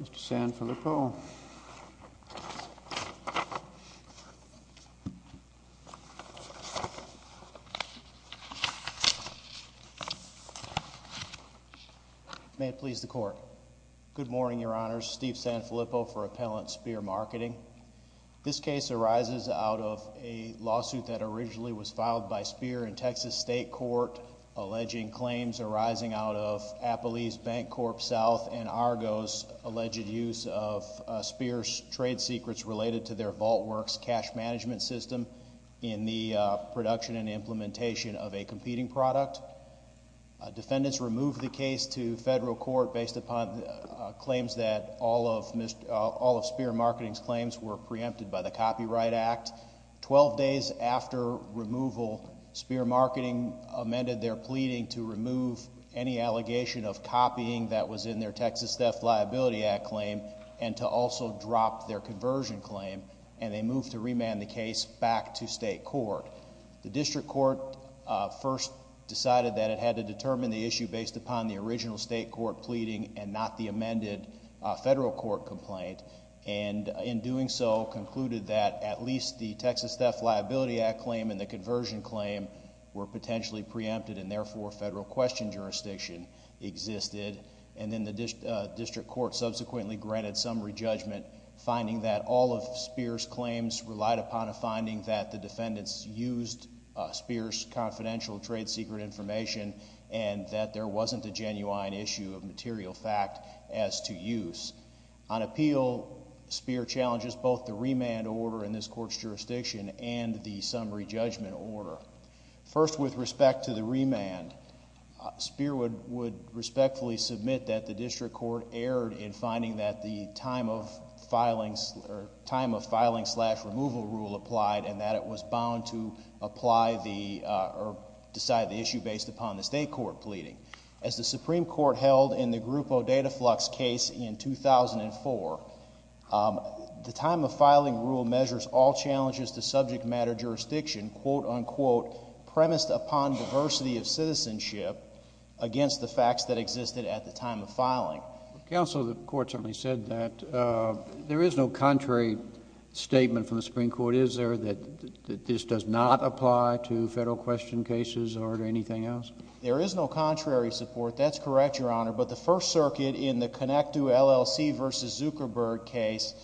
Mr. Sanfilippo. May it please the Court. Good morning, Your Honors. Steve Sanfilippo for Appellant Spear Marketing. This case arises out of a lawsuit that originally was filed by Spear in Texas State Court alleging claims arising out of Appellee's BancorpSouth and Argo's alleged use of Spear's trade secrets related to their VaultWorks cash management system in the production and implementation of a competing product. Defendants removed the case to federal court based upon claims that all of Spear Marketing's claims were Spear Marketing amended their pleading to remove any allegation of copying that was in their Texas Theft Liability Act claim and to also drop their conversion claim and they moved to remand the case back to state court. The district court first decided that it had to determine the issue based upon the original state court pleading and not the amended federal court complaint and in doing so concluded that at least the Texas Theft Liability Act claim and the conversion claim were potentially preempted and therefore federal question jurisdiction existed and then the district court subsequently granted summary judgment finding that all of Spear's claims relied upon a finding that the defendants used Spear's confidential trade secret information and that there wasn't a genuine issue of material fact as to use. On appeal, Spear challenges both the remand order in this court's jurisdiction and the summary judgment order. First, with respect to the remand, Spear would respectfully submit that the district court erred in finding that the time of filing slash removal rule applied and that it was bound to apply the or decide the issue based upon the state court pleading. As the Supreme Court held in the Groupo Dataflux case in 2004, the time of filing rule measures all challenges to subject matter jurisdiction, quote unquote, premised upon diversity of citizenship against the facts that existed at the time of filing. Counsel, the court certainly said that. There is no contrary statement from the Supreme Court, is there, that this does not apply to federal question cases or to anything else? There is no contrary support, that's correct, Your Honor, but the First Circuit in the Connectu LLC v. Zuckerberg case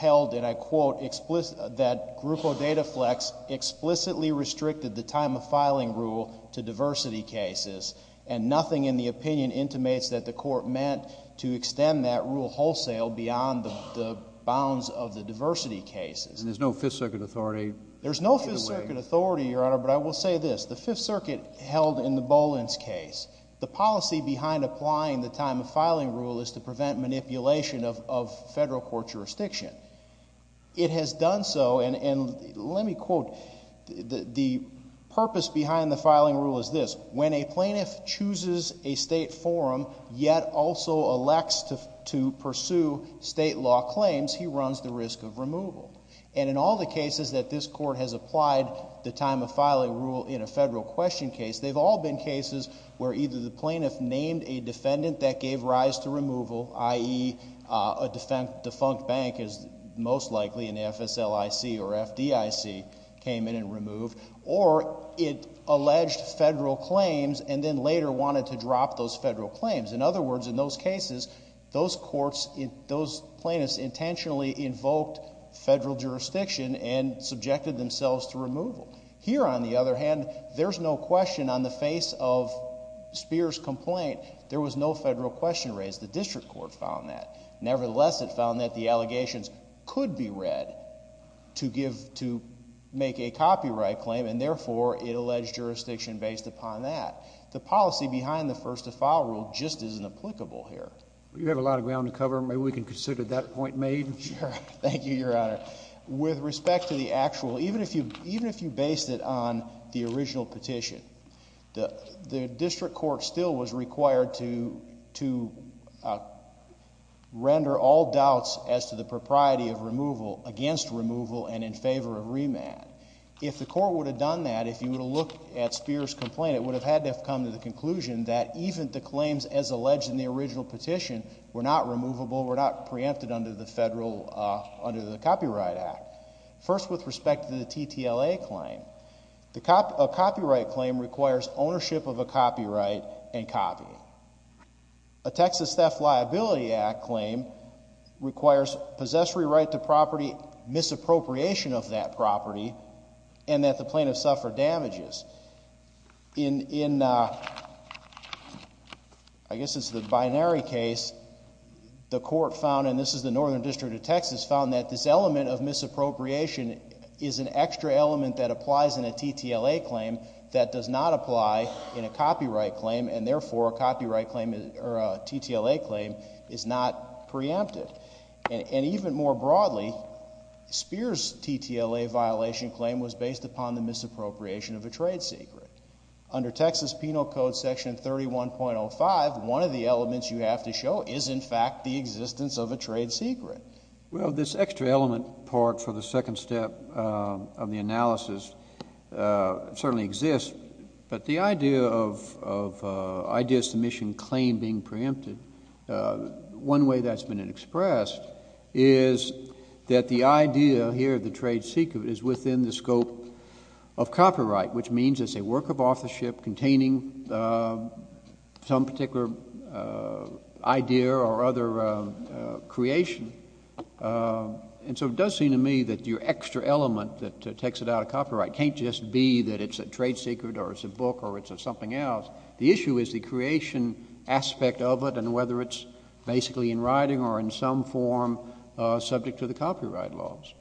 held, and I quote, that Groupo Dataflux explicitly restricted the time of filing rule to diversity cases and nothing in the opinion intimates that the court meant to extend that rule wholesale beyond the bounds of the diversity cases. And there's no Fifth Circuit authority? There's no Fifth Circuit authority, Your Honor, but I will say this. The Fifth Circuit held in the Bolins case, the policy behind applying the time of filing rule is to prevent manipulation of federal court jurisdiction. It has done so, and let me quote, the purpose behind the filing rule is this, when a plaintiff chooses a state forum yet also elects to pursue state law claims, he runs the risk of removal. And in all the cases that this court has applied the time of filing rule in a federal question case, they've all been cases where either the plaintiff named a defendant that gave rise to removal, i.e., a defunct bank is most likely an FSLIC or FDIC, came in and removed, or it alleged federal claims and then later wanted to drop those federal claims. In other words, in those cases, those courts, those plaintiffs presented themselves to removal. Here, on the other hand, there's no question on the face of Spears' complaint, there was no federal question raised. The district court found that. Nevertheless, it found that the allegations could be read to give, to make a copyright claim, and therefore, it alleged jurisdiction based upon that. The policy behind the first to file rule just isn't applicable here. You have a lot of ground to cover. Maybe we can consider that point made. Thank you, Your Honor. With respect to the actual, even if you based it on the original petition, the district court still was required to render all doubts as to the propriety of removal against removal and in favor of remand. If the court would have done that, if you would have looked at Spears' complaint, it would have had to have come to the conclusion that even the claims as alleged in the original petition were not removable, were not preempted under the federal, under the Copyright Act. First, with respect to the TTLA claim, a copyright claim requires ownership of a copyright and copy. A Texas Theft Liability Act claim requires possessory right to property, misappropriation of that property, and that the plaintiff suffer damages. In, I guess it's the binary case, the court found, and this is the number one case in the Northern District of Texas, found that this element of misappropriation is an extra element that applies in a TTLA claim that does not apply in a copyright claim, and therefore a copyright claim or a TTLA claim is not preempted. And even more broadly, Spears' TTLA violation claim was based upon the misappropriation of a trade secret. Under Texas Penal Code Section 31.05, one of the elements you have to show is in fact the existence of a trade secret. Well, this extra element part for the second step of the analysis certainly exists, but the idea of idea submission claim being preempted, one way that's been expressed is that the idea here of the trade secret is within the scope of copyright, which means it's a work of authorship containing some particular idea or other creation. And so it does seem to me that your extra element that takes it out of copyright can't just be that it's a trade secret or it's a book or it's something else. The issue is the creation aspect of it and whether it's basically in writing or in some form subject to the copyright laws.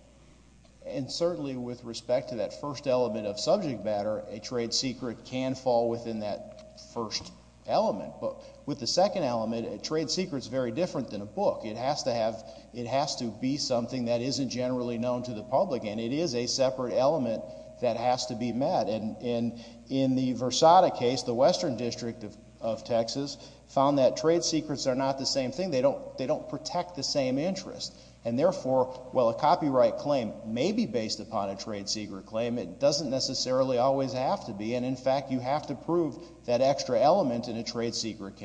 And certainly with respect to that first element of subject matter, a trade secret can fall within that first element. But with the second element, a trade secret is very different than a book. It has to have, it has to be something that isn't generally known to the public and it is a separate element that has to be met. And in the Versada case, the Western District of Texas found that trade secrets are not the same thing. They don't protect the same interests. And therefore, while a copyright claim may be based upon a trade secret claim, it doesn't necessarily always have to be. And in fact, you have to prove that extra element in a trade secret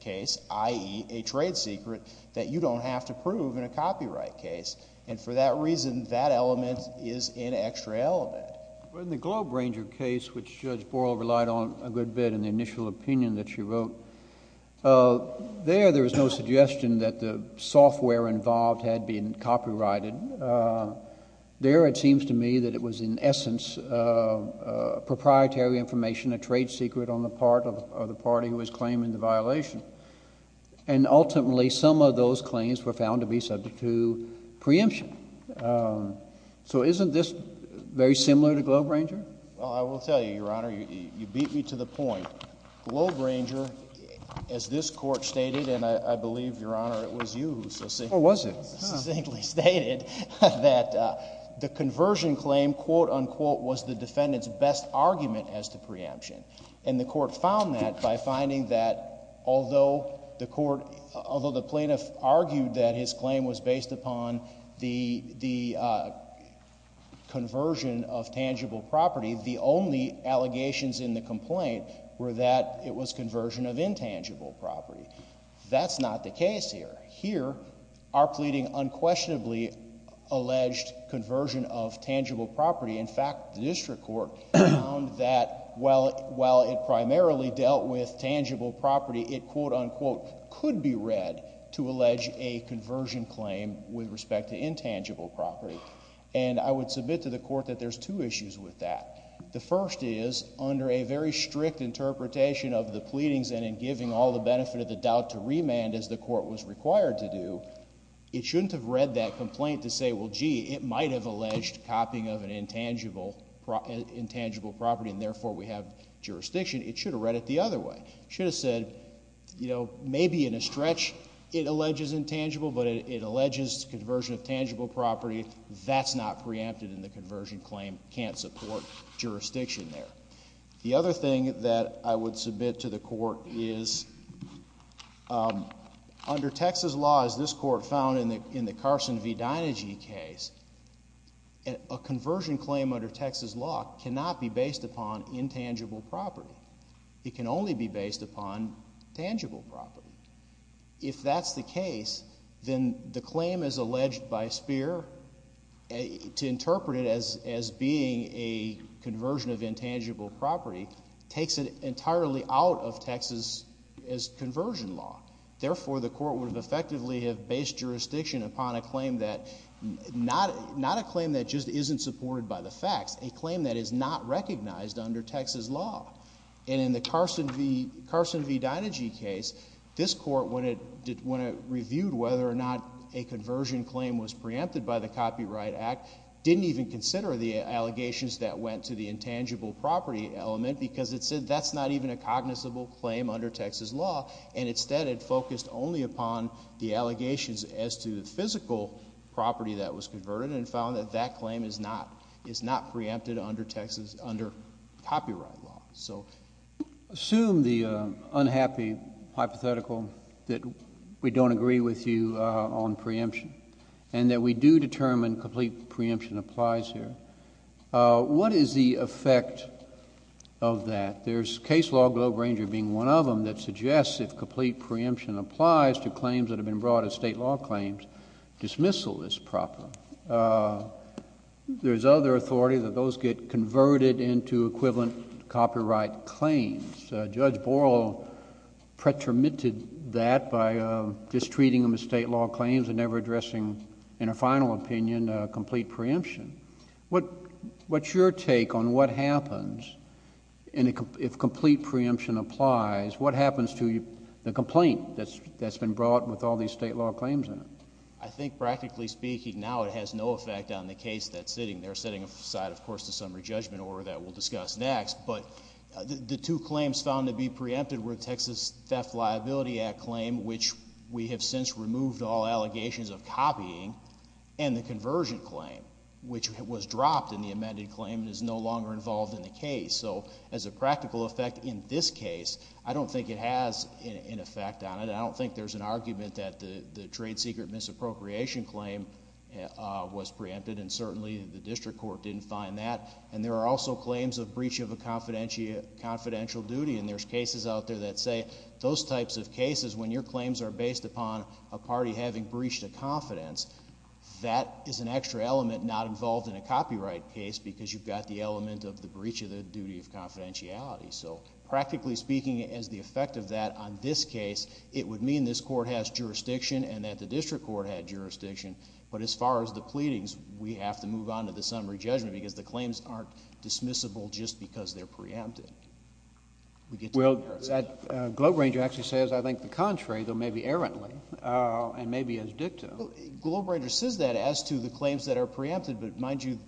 case, i.e. a trade secret, that you don't have to prove in a copyright case. And for that reason, that element is an extra element. But in the Globe Ranger case, which Judge Borrell relied on a good bit in the initial opinion that she wrote, there, there was no suggestion that the software involved had been copyrighted. There, it seems to me that it was in essence a proprietary information, a trade secret on the part of the party who was claiming the violation. And ultimately, some of those claims were found to be subject to preemption. So isn't this very similar to Globe Ranger? Well, I will tell you, Your Honor, you beat me to the point. Globe Ranger, as this Court stated, and I believe, Your Honor, it was you who succinctly stated that the conversion claim, quote, unquote, was the defendant's best argument as to preemption. And the Court found that by finding that although the Court, although the plaintiff argued that his claim was based upon the, the conversion of tangible property, the only allegations in the complaint were that it was conversion of intangible property. That's not the case here. Here, our pleading unquestionably alleged conversion of tangible property. In fact, the District Court found that while, while it primarily dealt with tangible property, it, quote, unquote, could be read to allege a conversion claim with respect to intangible property. And I would submit to the Court that there's two issues with that. The first is, under a very strict interpretation of the pleadings and in giving all the benefit of the doubt to remand as the Court was required to do, it shouldn't have read that complaint to say, well, gee, it might have alleged copying of an intangible, intangible property and therefore we have jurisdiction. It should have read it the other way. It should have said, you know, maybe in a stretch it alleges intangible, but it, it alleges conversion of tangible property. That's not preempted in the conversion claim. Can't support jurisdiction there. The other thing that I would submit to the Court is under Texas law, as this Court found in the, in the Carson v. Dynegy case, a conversion claim under Texas law cannot be based upon intangible property. It can only be based upon tangible property. If that's the case, then the claim as alleged by Speer to interpret it as, as being a conversion of intangible property takes it entirely out of Texas as conversion law. Therefore, the Court would have effectively have based jurisdiction upon a claim that, not, not a claim that just isn't supported by the facts, a claim that is not recognized under Texas law. And in the Carson v., Carson v. Dynegy case, this Court, when it, when it reviewed whether or not a conversion claim was preempted by the Copyright Act, didn't even consider the allegations that went to the intangible property element because it said that's not even a cognizable claim under Texas law. And instead it focused only upon the allegations as to the physical property that was converted and found that that claim is not, is not preempted under Texas, under copyright law. So assume the unhappy hypothetical that we don't agree with you on preemption and that we do determine complete preemption applies here. What is the effect of that? There's case law, Globe Ranger being one of them, that suggests if complete preemption applies to claims that have been brought as state law claims, dismissal is proper. There's other authority that those get converted into equivalent copyright claims. Judge Borel pretermitted that by just treating them as state law claims and never addressing, in a final opinion, complete preemption. What, what's your take on what happens if complete preemption applies? What happens to the complaint that's, that's been brought with all these state law claims in it? I think practically speaking now it has no effect on the case that's sitting there, setting aside, of course, the summary judgment order that we'll discuss next. But the two claims found to be preempted were Texas Theft Liability Act claim, which we have since removed all allegations of copying, and the conversion claim, which was dropped in the amended claim and is no longer involved in the case. So as a practical effect in this case, I don't think it has an effect on it. I don't think there's an argument that the, the trade secret misappropriation claim was preempted, and certainly the district court didn't find that. And there are also claims of breach of a confidential, confidential duty, and there's cases out there that say those types of cases, when your claims are based upon a party having breached a confidence, that is an extra element not involved in a copyright case because you've got the element of the breach of the duty of confidentiality. So practically speaking, as the effect of that on this case, it would mean this court has jurisdiction and that the district court had jurisdiction. But as far as the pleadings, we have to move on to the summary judgment because the claims aren't dismissible just because they're preempted. We get to the jurisdiction. Well, that Globe Ranger actually says, I think, the contrary, though maybe errantly, and maybe as dicta. Globe Ranger says that as to the claims that are preempted, but mind you.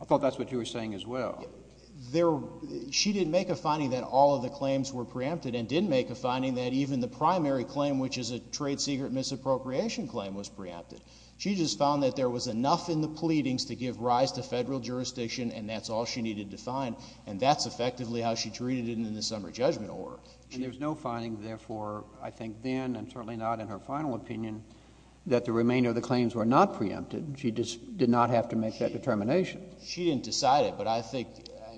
I thought that's what you were saying as well. There, she didn't make a finding that all of the claims were preempted and didn't make a finding that even the primary claim, which is a trade secret misappropriation claim, was preempted. She just found that there was enough in the pleadings to give rise to Federal jurisdiction and that's all she needed to find, and that's effectively how she treated it in the summary judgment order. And there's no finding, therefore, I think then, and certainly not in her final opinion, that the remainder of the claims were not preempted. She did not have to make that determination. She didn't decide it, but I think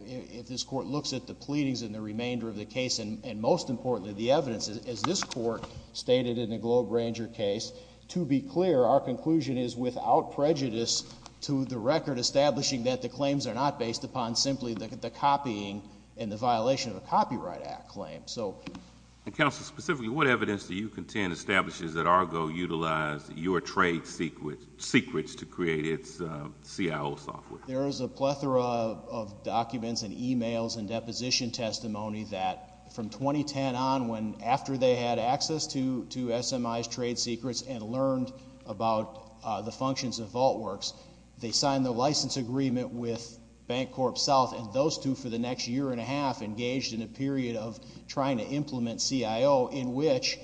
if this Court looks at the pleadings and the remainder of the case, and most importantly, the evidence, as this Court stated in the Globe Ranger case, to be clear, our conclusion is without prejudice to the record establishing that the claims are not based upon simply the copying and the violation of a Copyright Act claim. And, Counsel, specifically, what evidence do you contend establishes that Argo utilized your trade secrets to create its CIO software? There is a plethora of documents and e-mails and deposition testimony that from 2010 on, after they had access to SMI's trade secrets and learned about the functions of VaultWorks, they signed the license agreement with Bancorp South, and those two, for the next year and a half, engaged in a period of trying to implement CIO, in which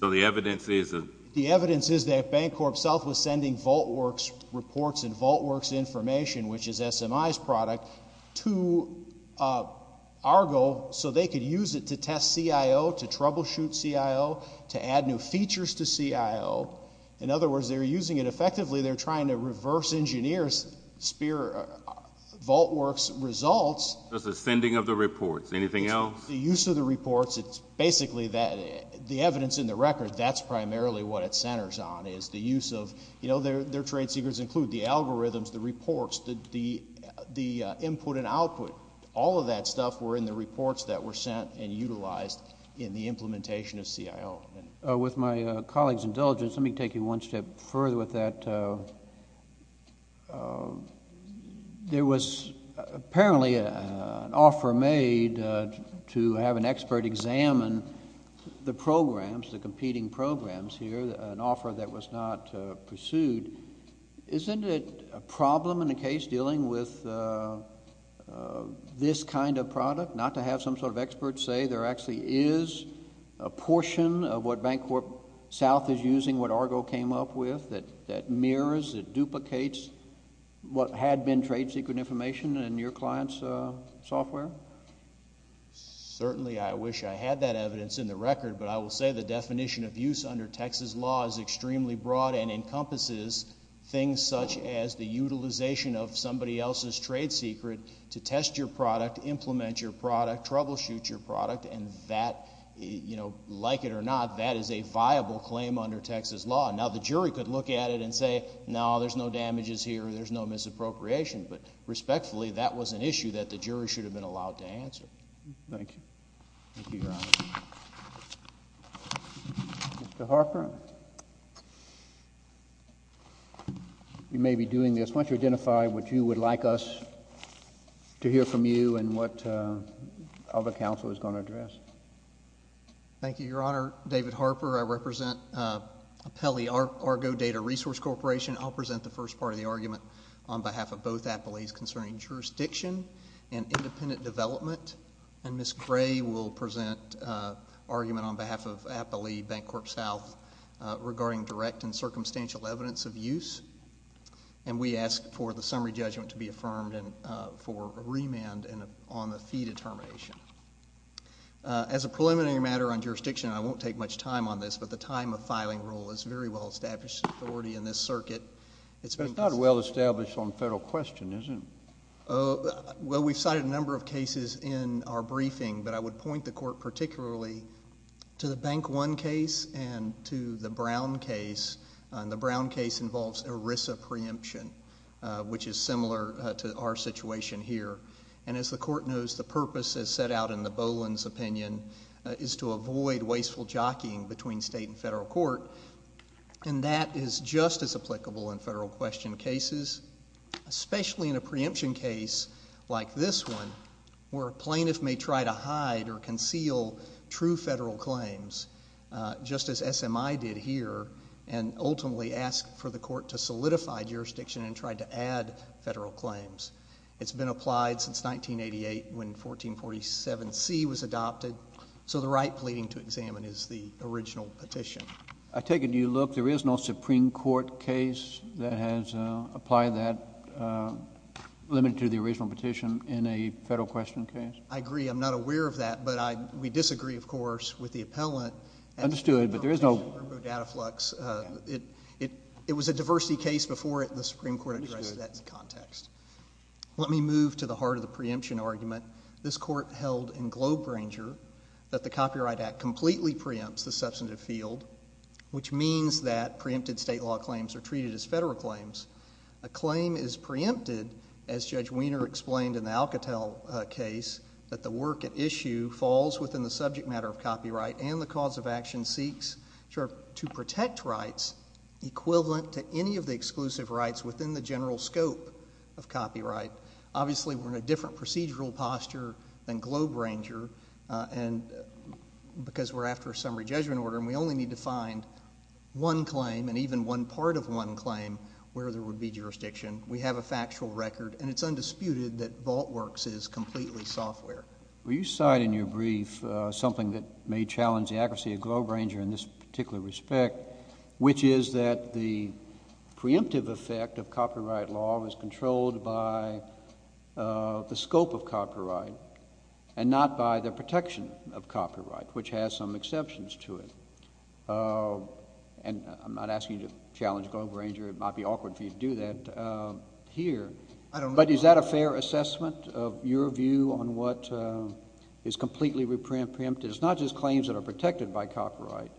So the evidence is that The evidence is that Bancorp South was sending VaultWorks reports and VaultWorks information, which is SMI's product, to Argo so they could use it to test CIO, to troubleshoot CIO, to add new features to CIO. In other words, they're using it effectively, they're trying to reverse engineer VaultWorks results The sending of the reports, anything else? The use of the reports, it's basically that, the evidence in the record, that's primarily what it centers on, is the use of, you know, their trade secrets include the algorithms, the reports, the input and output, all of that stuff were in the reports that were sent and utilized in the implementation of CIO. With my colleagues' indulgence, let me take you one step further with that. There was apparently an offer made to have an expert examine the programs, the competing programs here, an offer that was not pursued. Isn't it a problem in a case dealing with this kind of product, not to have some sort of expert say there actually is a portion of what BankCorp South is using, what Argo came up with, that mirrors, that duplicates what had been trade secret information in your client's software? Certainly I wish I had that evidence in the record, but I will say the definition of use under Texas law is extremely broad and encompasses things such as the utilization of somebody else's trade secret to test your product, implement your product, troubleshoot your product, and that, you know, like it or not, that is a viable claim under Texas law. Now, the jury could look at it and say, no, there's no damages here, there's no misappropriation, but respectfully, that was an issue that the jury should have been allowed to answer. Thank you. Thank you, Your Honor. Mr. Harper, you may be doing this. Why don't you identify what you would like us to hear from you and what other counsel is going to address? Thank you, Your Honor. David Harper. I represent Apelli Argo Data Resource Corporation. I'll present the first part of the argument on behalf of both appellees concerning jurisdiction and independent development, and Ms. Gray will present an argument on behalf of Apelli Bank Corp. South regarding direct and circumstantial evidence of use, and we ask for the summary judgment to be affirmed and for a remand on the fee determination. As a preliminary matter on jurisdiction, I won't take much time on this, but the time of filing rule is very well established in authority in this circuit. It's not well established on federal question, is it? Well, we've cited a number of cases in our briefing, but I would point the Court particularly to the Bank One case and to the Brown case, and the Brown case involves ERISA preemption, which is similar to our situation here. And as the Court knows, the purpose as set out in the Boland's opinion is to avoid wasteful jockeying between state and federal court, and that is just as applicable in federal question cases, especially in a preemption case like this one, where a plaintiff may try to hide or conceal true federal claims, just as SMI did here, and ultimately asked for the Court to solidify jurisdiction and try to add federal claims. It's been applied since 1988 when 1447C was adopted, so the right pleading to examine is the original petition. I take a new look. There is no Supreme Court case that has applied that, limited to the original petition, in a federal question case? I agree. I'm not aware of that, but we disagree, of course, with the appellant. Understood, but there is no — It was a diversity case before it, and the Supreme Court addressed that in context. Let me move to the heart of the preemption argument. This Court held in Globe Ranger that the Copyright Act completely preempts the substantive field, which means that preempted state law claims are treated as federal claims. A claim is preempted, as Judge Wiener explained in the Alcatel case, that the work at issue falls within the subject matter of copyright and the cause of action seeks to protect rights equivalent to any of the exclusive rights within the general scope of copyright. Obviously, we're in a different procedural posture than Globe Ranger because we're after a summary judgment order, and we only need to find one claim and even one part of one claim where there would be jurisdiction. We have a factual record, and it's undisputed that VaultWorks is completely software. Will you cite in your brief something that may challenge the accuracy of Globe Ranger in this particular respect, which is that the preemptive effect of copyright law was not by the protection of copyright, which has some exceptions to it? And I'm not asking you to challenge Globe Ranger. It might be awkward for you to do that here, but is that a fair assessment of your view on what is completely preemptive? It's not just claims that are protected by copyright,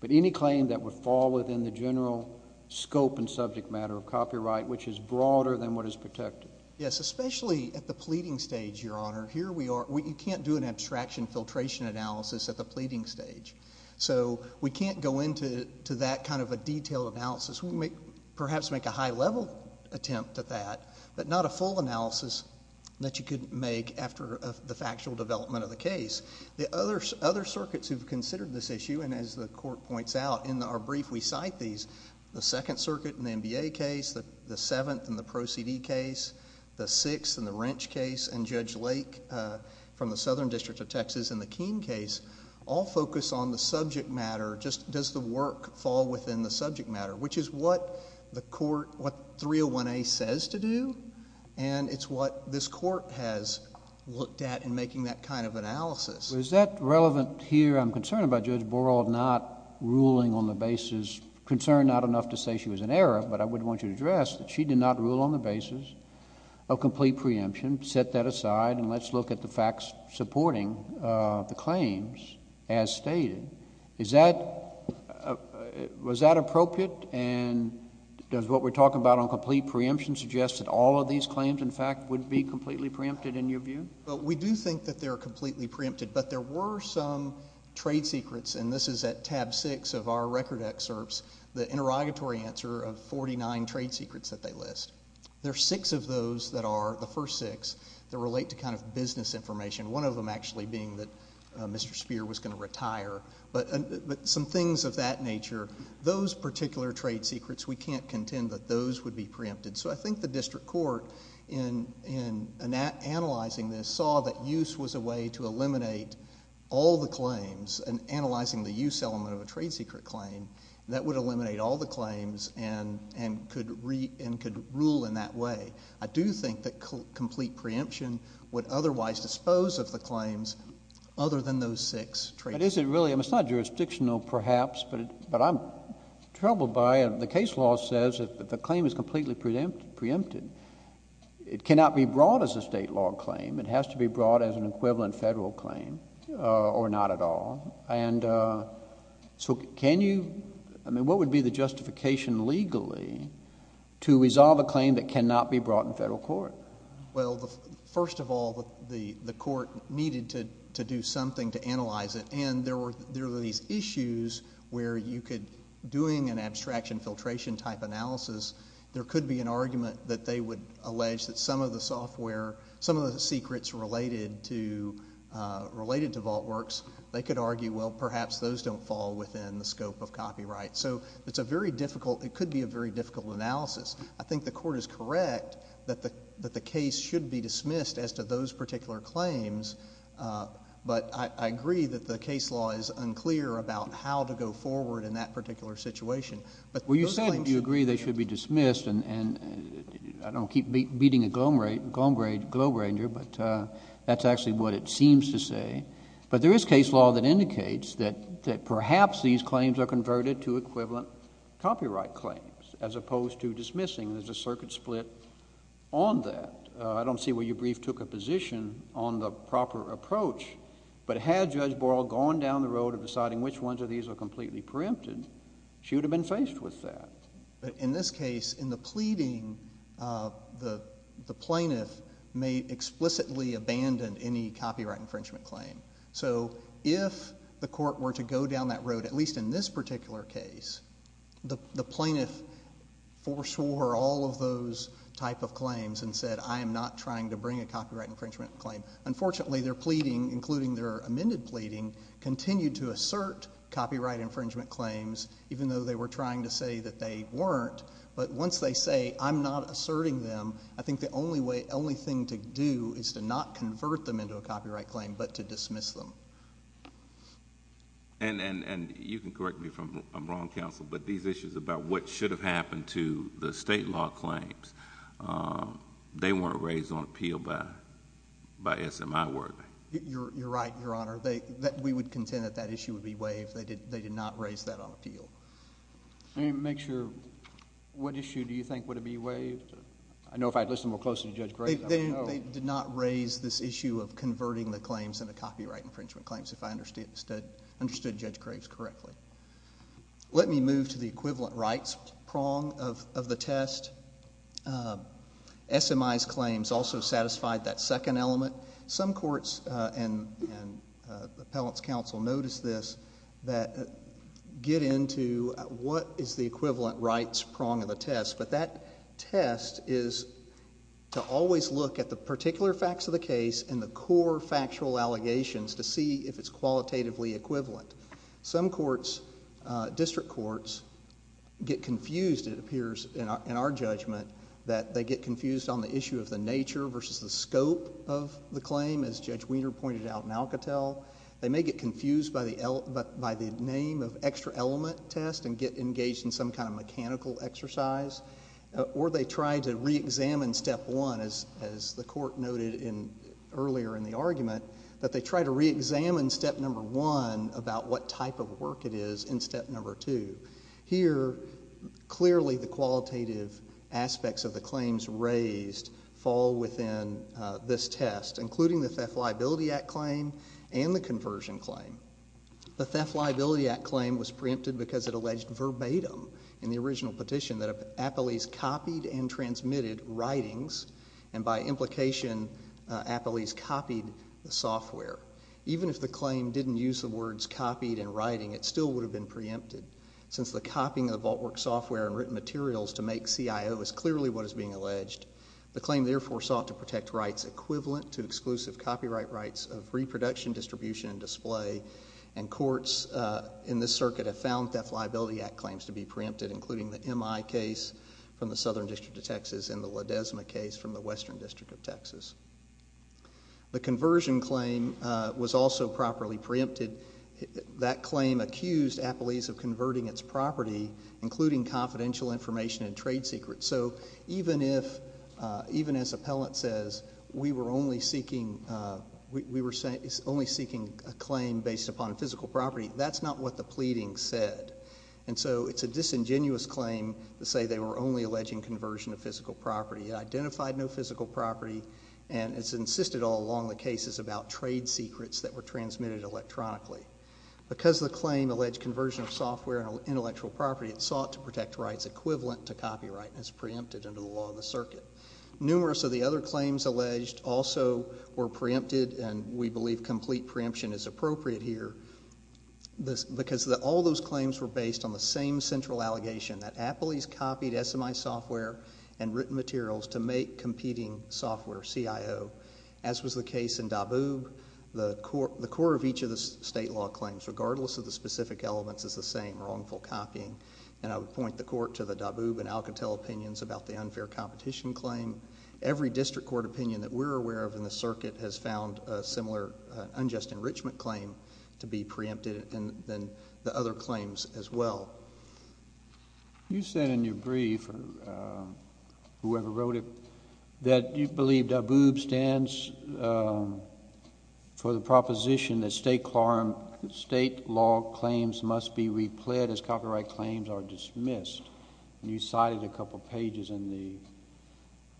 but any claim that would fall within the general scope and subject matter of copyright, which is broader than what is protected. Yes, especially at the pleading stage, Your Honor. You can't do an abstraction filtration analysis at the pleading stage. So we can't go into that kind of a detailed analysis. We may perhaps make a high-level attempt at that, but not a full analysis that you could make after the factual development of the case. The other circuits who've considered this issue, and as the Court points out in our brief, we cite these, the Second Circuit in the MBA case, the Seventh in the Proceedee case, the Sixth in the Wrench case, and Judge Lake from the Southern District of Texas in the Keene case, all focus on the subject matter, just does the work fall within the subject matter, which is what the Court, what 301A says to do, and it's what this Court has looked at in making that kind of analysis. Is that relevant here? I'm concerned about Judge Borrell not ruling on the basis, concerned not enough to say she was in error, but I would want you to address that she did not rule on the basis of complete preemption, set that aside, and let's look at the facts supporting the claims as stated. Is that, was that appropriate, and does what we're talking about on complete preemption suggest that all of these claims, in fact, would be completely preempted in your view? We do think that they're completely preempted, but there were some trade secrets, and this is at tab six of our record excerpts, the interrogatory answer of 49 trade secrets that they list. There are six of those that are, the first six, that relate to kind of business information, one of them actually being that Mr. Speer was going to retire, but some things of that nature, those particular trade secrets, we can't contend that those would be preempted, so I think the District Court, in analyzing this, saw that use was a way to eliminate all the claims, and analyzing the use element of a trade secret claim, that would eliminate all the claims and could rule in that way. I do think that complete preemption would otherwise dispose of the claims other than those six trade secrets. But is it really, I mean, it's not jurisdictional, perhaps, but I'm troubled by it. The case law says that the claim is completely preempted. It cannot be brought as a state law claim. It has to be brought as an equivalent federal claim, or not at all, and so can you, I mean, what would be the justification legally to resolve a claim that cannot be brought in federal court? Well, first of all, the court needed to do something to analyze it, and there were these issues where you could, doing an abstraction filtration type analysis, there could be an abstraction, and there could be trade secrets related to VaultWorks. They could argue, well, perhaps those don't fall within the scope of copyright. So it's a very difficult, it could be a very difficult analysis. I think the court is correct that the case should be dismissed as to those particular claims, but I agree that the case law is unclear about how to go forward in that particular situation, but those claims should be dismissed. Well, you said you agree they should be dismissed, and I don't keep beating a Glomgranger, but that's actually what it seems to say. But there is case law that indicates that perhaps these claims are converted to equivalent copyright claims, as opposed to dismissing. There's a circuit split on that. I don't see where your brief took a position on the proper approach, but had Judge Borrell gone down the road of deciding which ones of these are completely preempted, she would have been faced with that. In this case, in the pleading, the plaintiff may explicitly abandon any copyright infringement claim. So if the court were to go down that road, at least in this particular case, the plaintiff foreswore all of those type of claims and said, I am not trying to bring a copyright infringement claim. Unfortunately, their pleading, including their amended pleading, continued to assert copyright infringement claims, even though they were trying to say that they weren't. But once they say, I'm not asserting them, I think the only thing to do is to not convert them into a copyright claim, but to dismiss them. And you can correct me if I'm wrong, counsel, but these issues about what should have happened to the state law claims, they weren't raised on appeal by SMI work. You're right, Your Honor. We would contend that that issue would be waived. They did not raise that on appeal. Make sure, what issue do you think would be waived? I know if I had listened more closely to Judge Graves, I would know. They did not raise this issue of converting the claims into copyright infringement claims, if I understood Judge Graves correctly. Let me move to the equivalent rights prong of the test. SMI's claims also satisfied that and appellant's counsel noticed this, that get into what is the equivalent rights prong of the test, but that test is to always look at the particular facts of the case and the core factual allegations to see if it's qualitatively equivalent. Some courts, district courts, get confused, it appears in our judgment, that they get confused by the name of extra element test and get engaged in some kind of mechanical exercise, or they try to reexamine step one, as the court noted earlier in the argument, that they try to reexamine step number one about what type of work it is in step number two. Here clearly the qualitative aspects of the claims raised fall within this test, including the Theft Liability Act claim and the conversion claim. The Theft Liability Act claim was preempted because it alleged verbatim in the original petition that appellees copied and transmitted writings, and by implication, appellees copied the software. Even if the claim didn't use the words copied and writing, it still would have been preempted, since the copying of the VaultWorks software and written materials to make CIO is clearly what is being alleged. The claim therefore sought to protect rights equivalent to exclusive copyright rights of reproduction distribution and display, and courts in this circuit have found Theft Liability Act claims to be preempted, including the MI case from the Southern District of Texas and the Ledesma case from the Western District of Texas. The conversion claim was also properly preempted. That claim accused appellees of converting its property, including confidential information and trade secrets. So even if, even as appellant says, we were only seeking, we were only seeking a claim based upon physical property, that's not what the pleading said. And so it's a disingenuous claim to say they were only alleging conversion of physical property. It identified no physical property, and it's insisted all along the cases about trade secrets that were transmitted electronically. Because the claim alleged conversion of software and intellectual property, it sought to protect rights equivalent to copyright, and it's preempted under the law of the circuit. Numerous of the other claims alleged also were preempted, and we believe complete preemption is appropriate here, because all those claims were based on the same central allegation that appellees copied SMI software and written materials to make competing software CIO, as was the case in Daboob. The core of each of the state law claims, regardless of the specific elements, is the same, wrongful copying. And I would point the court to the Daboob and Alcatel opinions about the unfair competition claim. Every district court opinion that we're aware of in the circuit has found a similar unjust enrichment claim to be preempted, and then the other claims as well. You said in your brief, or whoever wrote it, that you believe Daboob stands for the proposition that state law claims must be replayed as copyright claims are dismissed. You cited a couple of pages in the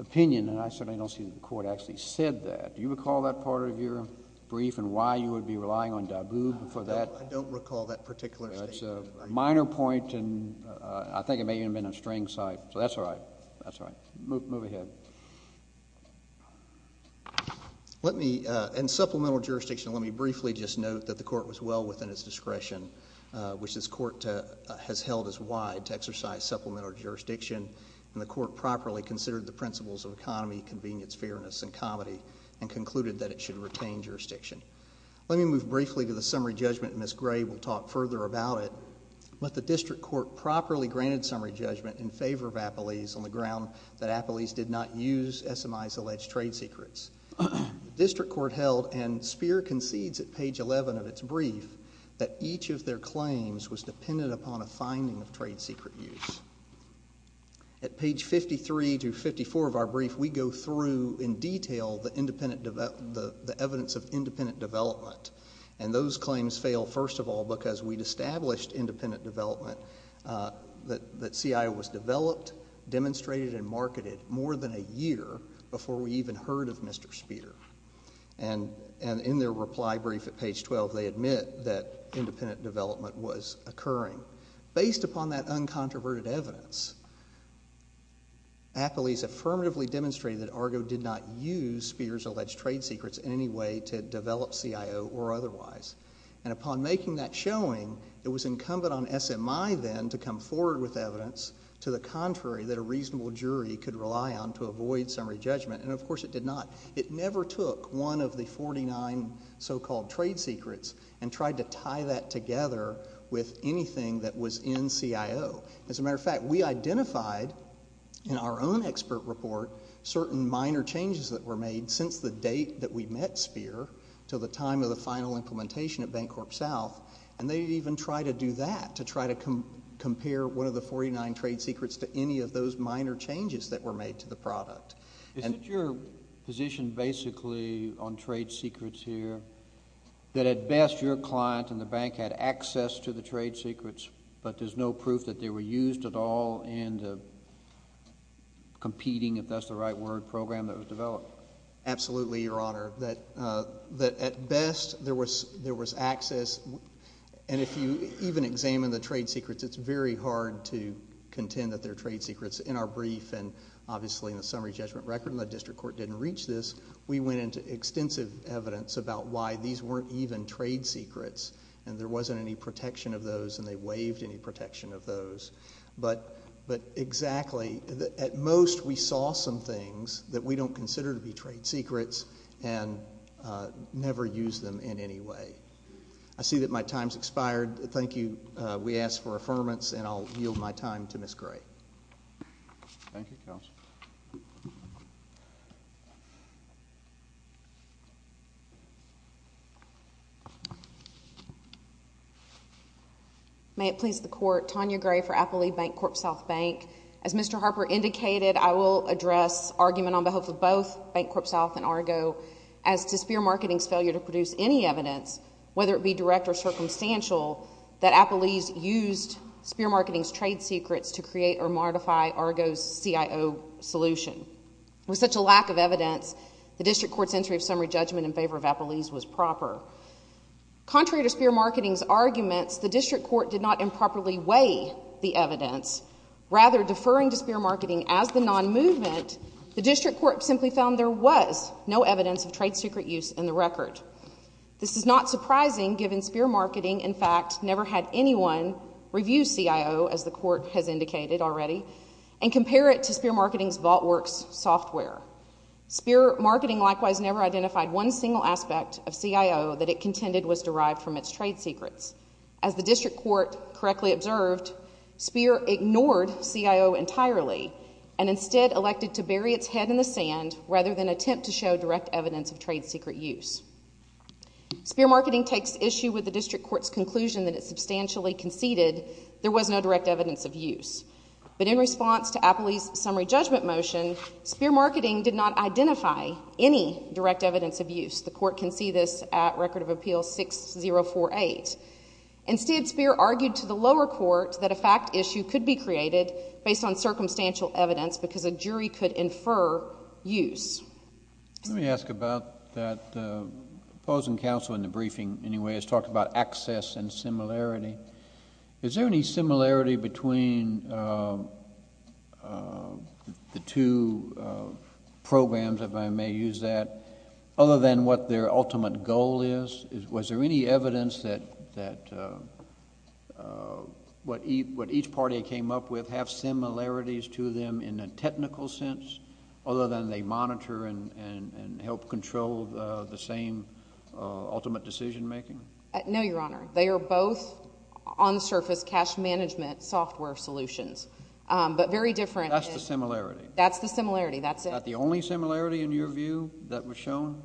opinion, and I certainly don't see that the court actually said that. Do you recall that part of your brief and why you would be relying on Daboob for that? No, I don't recall that particular statement. That's a minor point, and I think it may even have been a string site. So that's all right. That's all right. Move ahead. Let me, in supplemental jurisdiction, let me briefly just note that the court was well within its discretion, which this court has held as wide to exercise supplemental jurisdiction, and the court properly considered the principles of economy, convenience, fairness, and comedy, and concluded that it should retain jurisdiction. Let me move briefly to the summary judgment and Ms. Gray will talk further about it. But the district court properly granted summary judgment in favor of Appelese on the ground that Appelese did not use SMI's alleged trade secrets. The district court held, and Speer concedes at page 11 of its brief, that each of their claims was dependent upon a finding of trade secret use. At page 53 to 54 of our brief, we go through in detail the evidence of independent development, and those claims fail, first of all, because we'd established independent development, that CIO was developed, demonstrated, and marketed more than a year before we even heard of Mr. Speer. And in their reply brief at page 12, they admit that independent development was occurring. Based upon that uncontroverted evidence, Appelese affirmatively demonstrated that Argo did not use Speer's alleged trade secrets in any way to develop CIO or otherwise. And upon making that showing, it was incumbent on SMI then to come forward with evidence to the contrary that a reasonable jury could rely on to avoid summary judgment, and of course it did not. It never took one of the 49 so-called trade secrets and tried to tie that together with anything that was in CIO. As a matter of fact, we identified in our own expert report certain minor changes that were made since the date that we met Speer to the time of the final implementation at Bancorp South, and they even tried to do that, to try to compare one of the 49 trade secrets to any of those minor changes that were made to the product. Is it your position basically on trade secrets here that at best your client and the bank had access to the trade secrets, but there's no proof that they were used at all, and competing, if that's the right word, program that was developed? Absolutely, Your Honor. That at best there was access, and if you even examine the trade secrets, it's very hard to contend that they're trade secrets. In our brief, and obviously in the summary judgment record, and the district court didn't reach this, we went into extensive evidence about why these weren't even trade secrets, and there wasn't any protection of those, and they waived any protection of those. But exactly, at most we saw some things that we don't consider to be trade secrets, and never used them in any way. I see that my time's expired. Thank you. We ask for affirmance, and I'll yield my time to Ms. Gray. Thank you, Counsel. May it please the Court, Tonya Gray for Applee Bank, Corp South Bank. As Mr. Harper indicated, I will address argument on behalf of both Bank Corp South and Argo as to Spear Marketing's failure to produce any evidence, whether it be direct or circumstantial, that Applee's used Spear Marketing's trade secrets to create or modify Argo's CIO solution. With such a lack of evidence, the district court's entry of summary judgment in favor of Applee's was proper. Contrary to Spear Marketing's arguments, the district court did not improperly weigh the evidence. Rather, deferring to Spear Marketing as the non-movement, the district court simply found there was no evidence of trade secret use in the record. This is not surprising, given Spear Marketing, in fact, never had anyone review CIO, as the court has indicated already, and compare it to Spear Marketing's VaultWorks software. Spear Marketing, likewise, never identified one single aspect of CIO that it contended was derived from its trade secrets. As the district court correctly observed, Spear ignored CIO entirely, and instead elected to bury its head in the sand rather than attempt to show direct evidence of trade secret use. Spear Marketing takes issue with the district court's conclusion that it substantially conceded there was no direct evidence of use. But in response to Applee's summary judgment motion, Spear Marketing did not identify any direct evidence of use. The court can see this at Record of Appeal 6048. Instead, Spear argued to the lower court that a fact issue could be created based on circumstantial evidence because a jury could infer use. Let me ask about that. The opposing counsel in the briefing, anyway, has talked about access and similarity. Is there any similarity between the two programs, if I may use that, other than what their ultimate goal is? Was there any evidence that what each party came up with have similarities to them in a technical sense, other than they monitor and help control the same ultimate decision-making? No, Your Honor. They are both on-surface cash management software solutions, but very different in— That's the similarity. That's the similarity. That's it. Is that the only similarity, in your view, that was shown?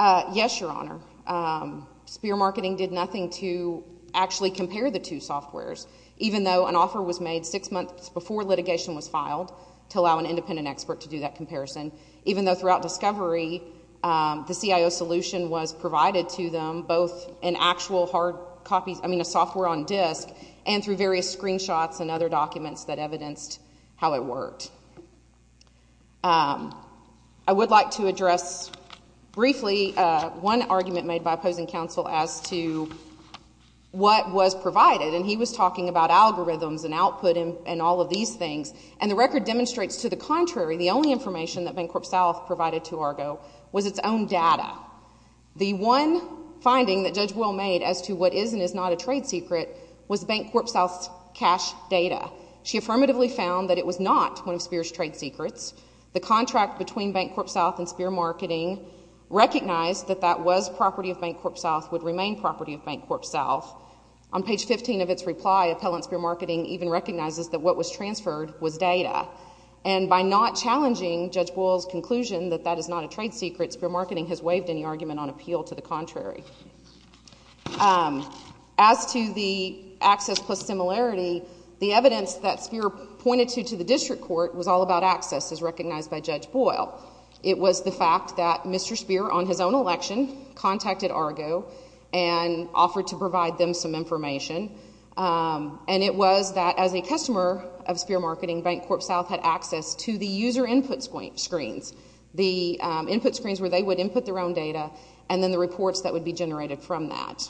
Yes, Your Honor. Spear Marketing did nothing to actually compare the two softwares. Even though an offer was made six months before litigation was filed to allow an independent expert to do that comparison, even though throughout discovery, the CIO solution was provided to them, both in actual hard copies—I mean, a software on disk and through various screenshots and other documents that evidenced how it worked. I would like to address briefly one argument made by opposing counsel as to what was provided. And he was talking about algorithms and output and all of these things. And the record demonstrates, to the contrary, the only information that Bancorp South provided to Argo was its own data. The one finding that Judge Will made as to what is and is not a trade secret was Bancorp South's cash data. She affirmatively found that it was not one of Spear's trade secrets. The contract between Bancorp South and Spear Marketing recognized that that was property of Bancorp South. On page 15 of its reply, Appellant Spear Marketing even recognizes that what was transferred was data. And by not challenging Judge Boyle's conclusion that that is not a trade secret, Spear Marketing has waived any argument on appeal to the contrary. As to the access plus similarity, the evidence that Spear pointed to to the district court was all about access, as recognized by Judge Boyle. It was the fact that Mr. Spear, on his own election, contacted Argo and offered to provide them some information. And it was that, as a customer of Spear Marketing, Bancorp South had access to the user input screens, the input screens where they would input their own data, and then the reports that would be generated from that.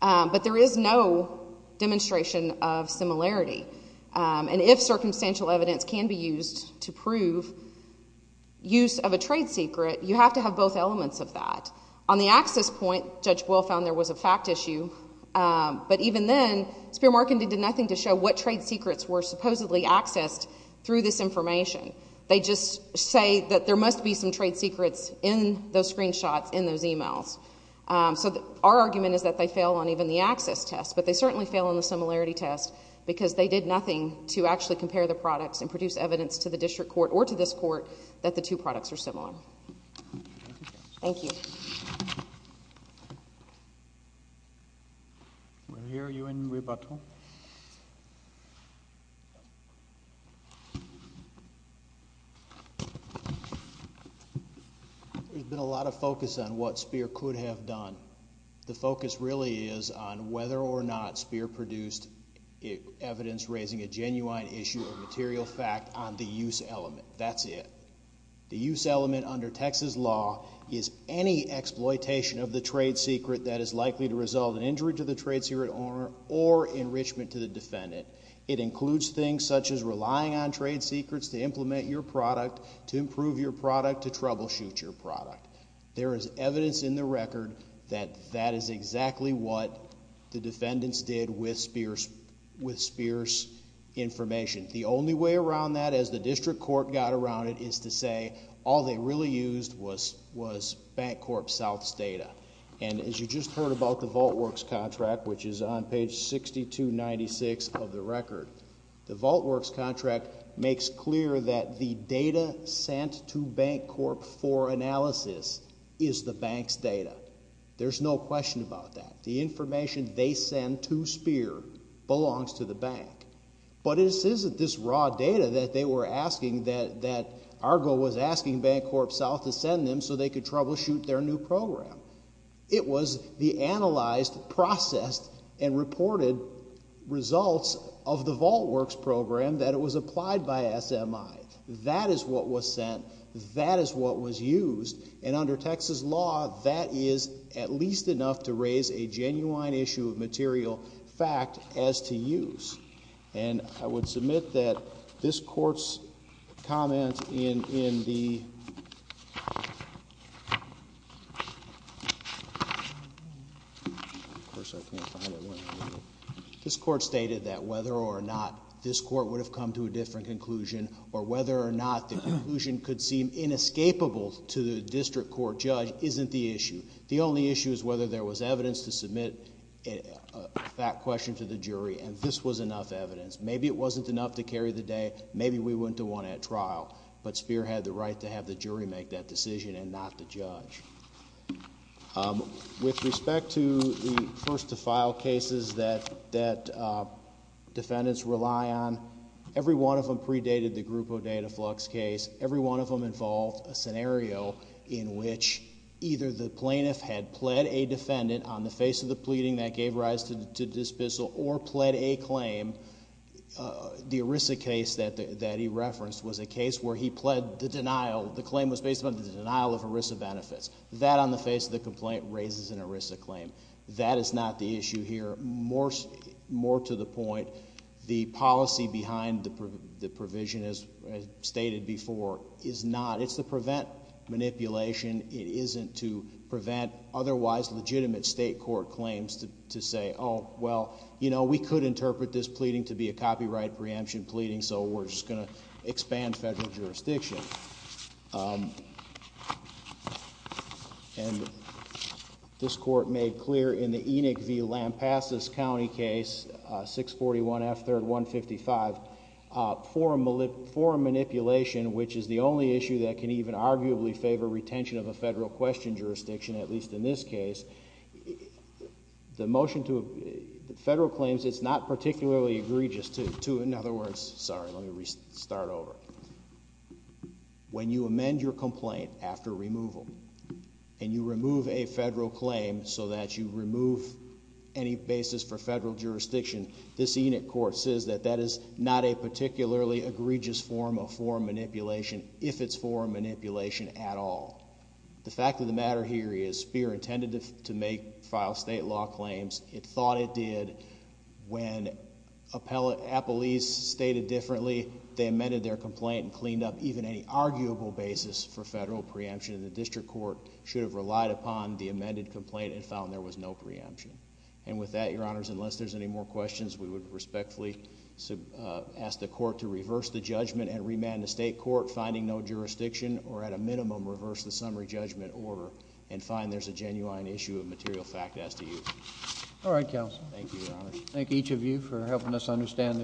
But there is no demonstration of similarity. And if circumstantial evidence can be used to prove use of a trade secret, you have to have both elements of that. On the access point, Judge Boyle found there was a fact issue. But even then, Spear Marketing did nothing to show what trade secrets were supposedly accessed through this information. They just say that there must be some trade secrets in those screenshots, in those emails. So our argument is that they fail on even the access test. But they certainly fail on the similarity test, because they did nothing to actually compare the products and produce evidence to the district court or to this court that the two products are similar. Thank you. We're here. Are you in rebuttal? There's been a lot of focus on what Spear could have done. The focus really is on whether or not Spear produced evidence raising a genuine issue of material fact on the use element. That's it. The use element under Texas law is any exploitation of the trade secret that is likely to result in injury to the trade secret owner or enrichment to the defendant. It includes things such as relying on trade secrets to implement your product, to improve your product, to troubleshoot your product. There is evidence in the record that that is exactly what the defendants did with Spear's information. The only way around that, as the district court got around it, is to say all they really used was Bancorp South's data. And as you just heard about the VaultWorks contract, which is on page 6296 of the record, the VaultWorks contract makes clear that the data sent to Bancorp for analysis is the bank's data. There's no question about that. The information they send to Spear belongs to the bank. But it isn't this raw data that they were asking, that Argo was asking Bancorp South to send them so they could troubleshoot their new program. It was the analyzed, processed and reported results of the VaultWorks program that was applied by SMI. That is what was sent. That is what was used. And under Texas law, that is at least enough to raise a genuine issue of material fact as to use. And I would submit that this Court's comment in the Of course, I can't find it. This Court stated that whether or not this Court would have come to a different conclusion or whether or not the conclusion could seem inescapable to the district court judge isn't the issue. The only issue is whether there was evidence to submit that question to the jury and this was enough evidence. Maybe it wasn't enough to carry the day. Maybe we went to one at trial. But Spear had the right to have the jury make that decision and not the judge. With respect to the first to file cases that defendants rely on, every one of them predated the Grupo Dataflux case. Every one of them involved a scenario in which either the plaintiff had pled a defendant on the face of the pleading that gave rise to the dismissal or pled a claim. The ERISA case that he referenced was a case where he pled the denial. The claim was based on the denial of ERISA benefits. That on the face of the complaint raises an ERISA claim. That is not the issue here. More to the point, the policy behind the provision, as stated before, is not. It's to prevent manipulation. It isn't to prevent otherwise legitimate state court claims to say, oh well, you know, we could interpret this pleading to be a copyright preemption pleading so we're just going to expand federal jurisdiction. And this court made clear in the Enoch v. Lampasas County case, 641 F. 3rd 155, forum manipulation, which is the only issue that can even arguably favor retention of a federal question jurisdiction, at least in this case, the motion to federal claims, it's not particularly egregious to, in other words, sorry, let me restart over. When you amend your complaint after removal, and you remove a federal claim so that you remove any basis for federal jurisdiction, this Enoch court says that that is not a particularly egregious form of forum manipulation, if it's forum manipulation at all. The fact of the matter here is FEER intended to make, file state law claims. It thought it did when Appellees stated differently, they amended their complaint and cleaned up even any arguable basis for federal preemption, and the district court should have relied upon the amended complaint and found there was no preemption. And with that, Your Honors, unless there's any more questions, we would respectfully ask the court to reverse the judgment and remand the state court finding no jurisdiction, or at a minimum, reverse the summary judgment order and find there's a genuine issue of material fact as to use. All right, Counsel. Thank you, Your Honors. Thank each of you for helping us understand.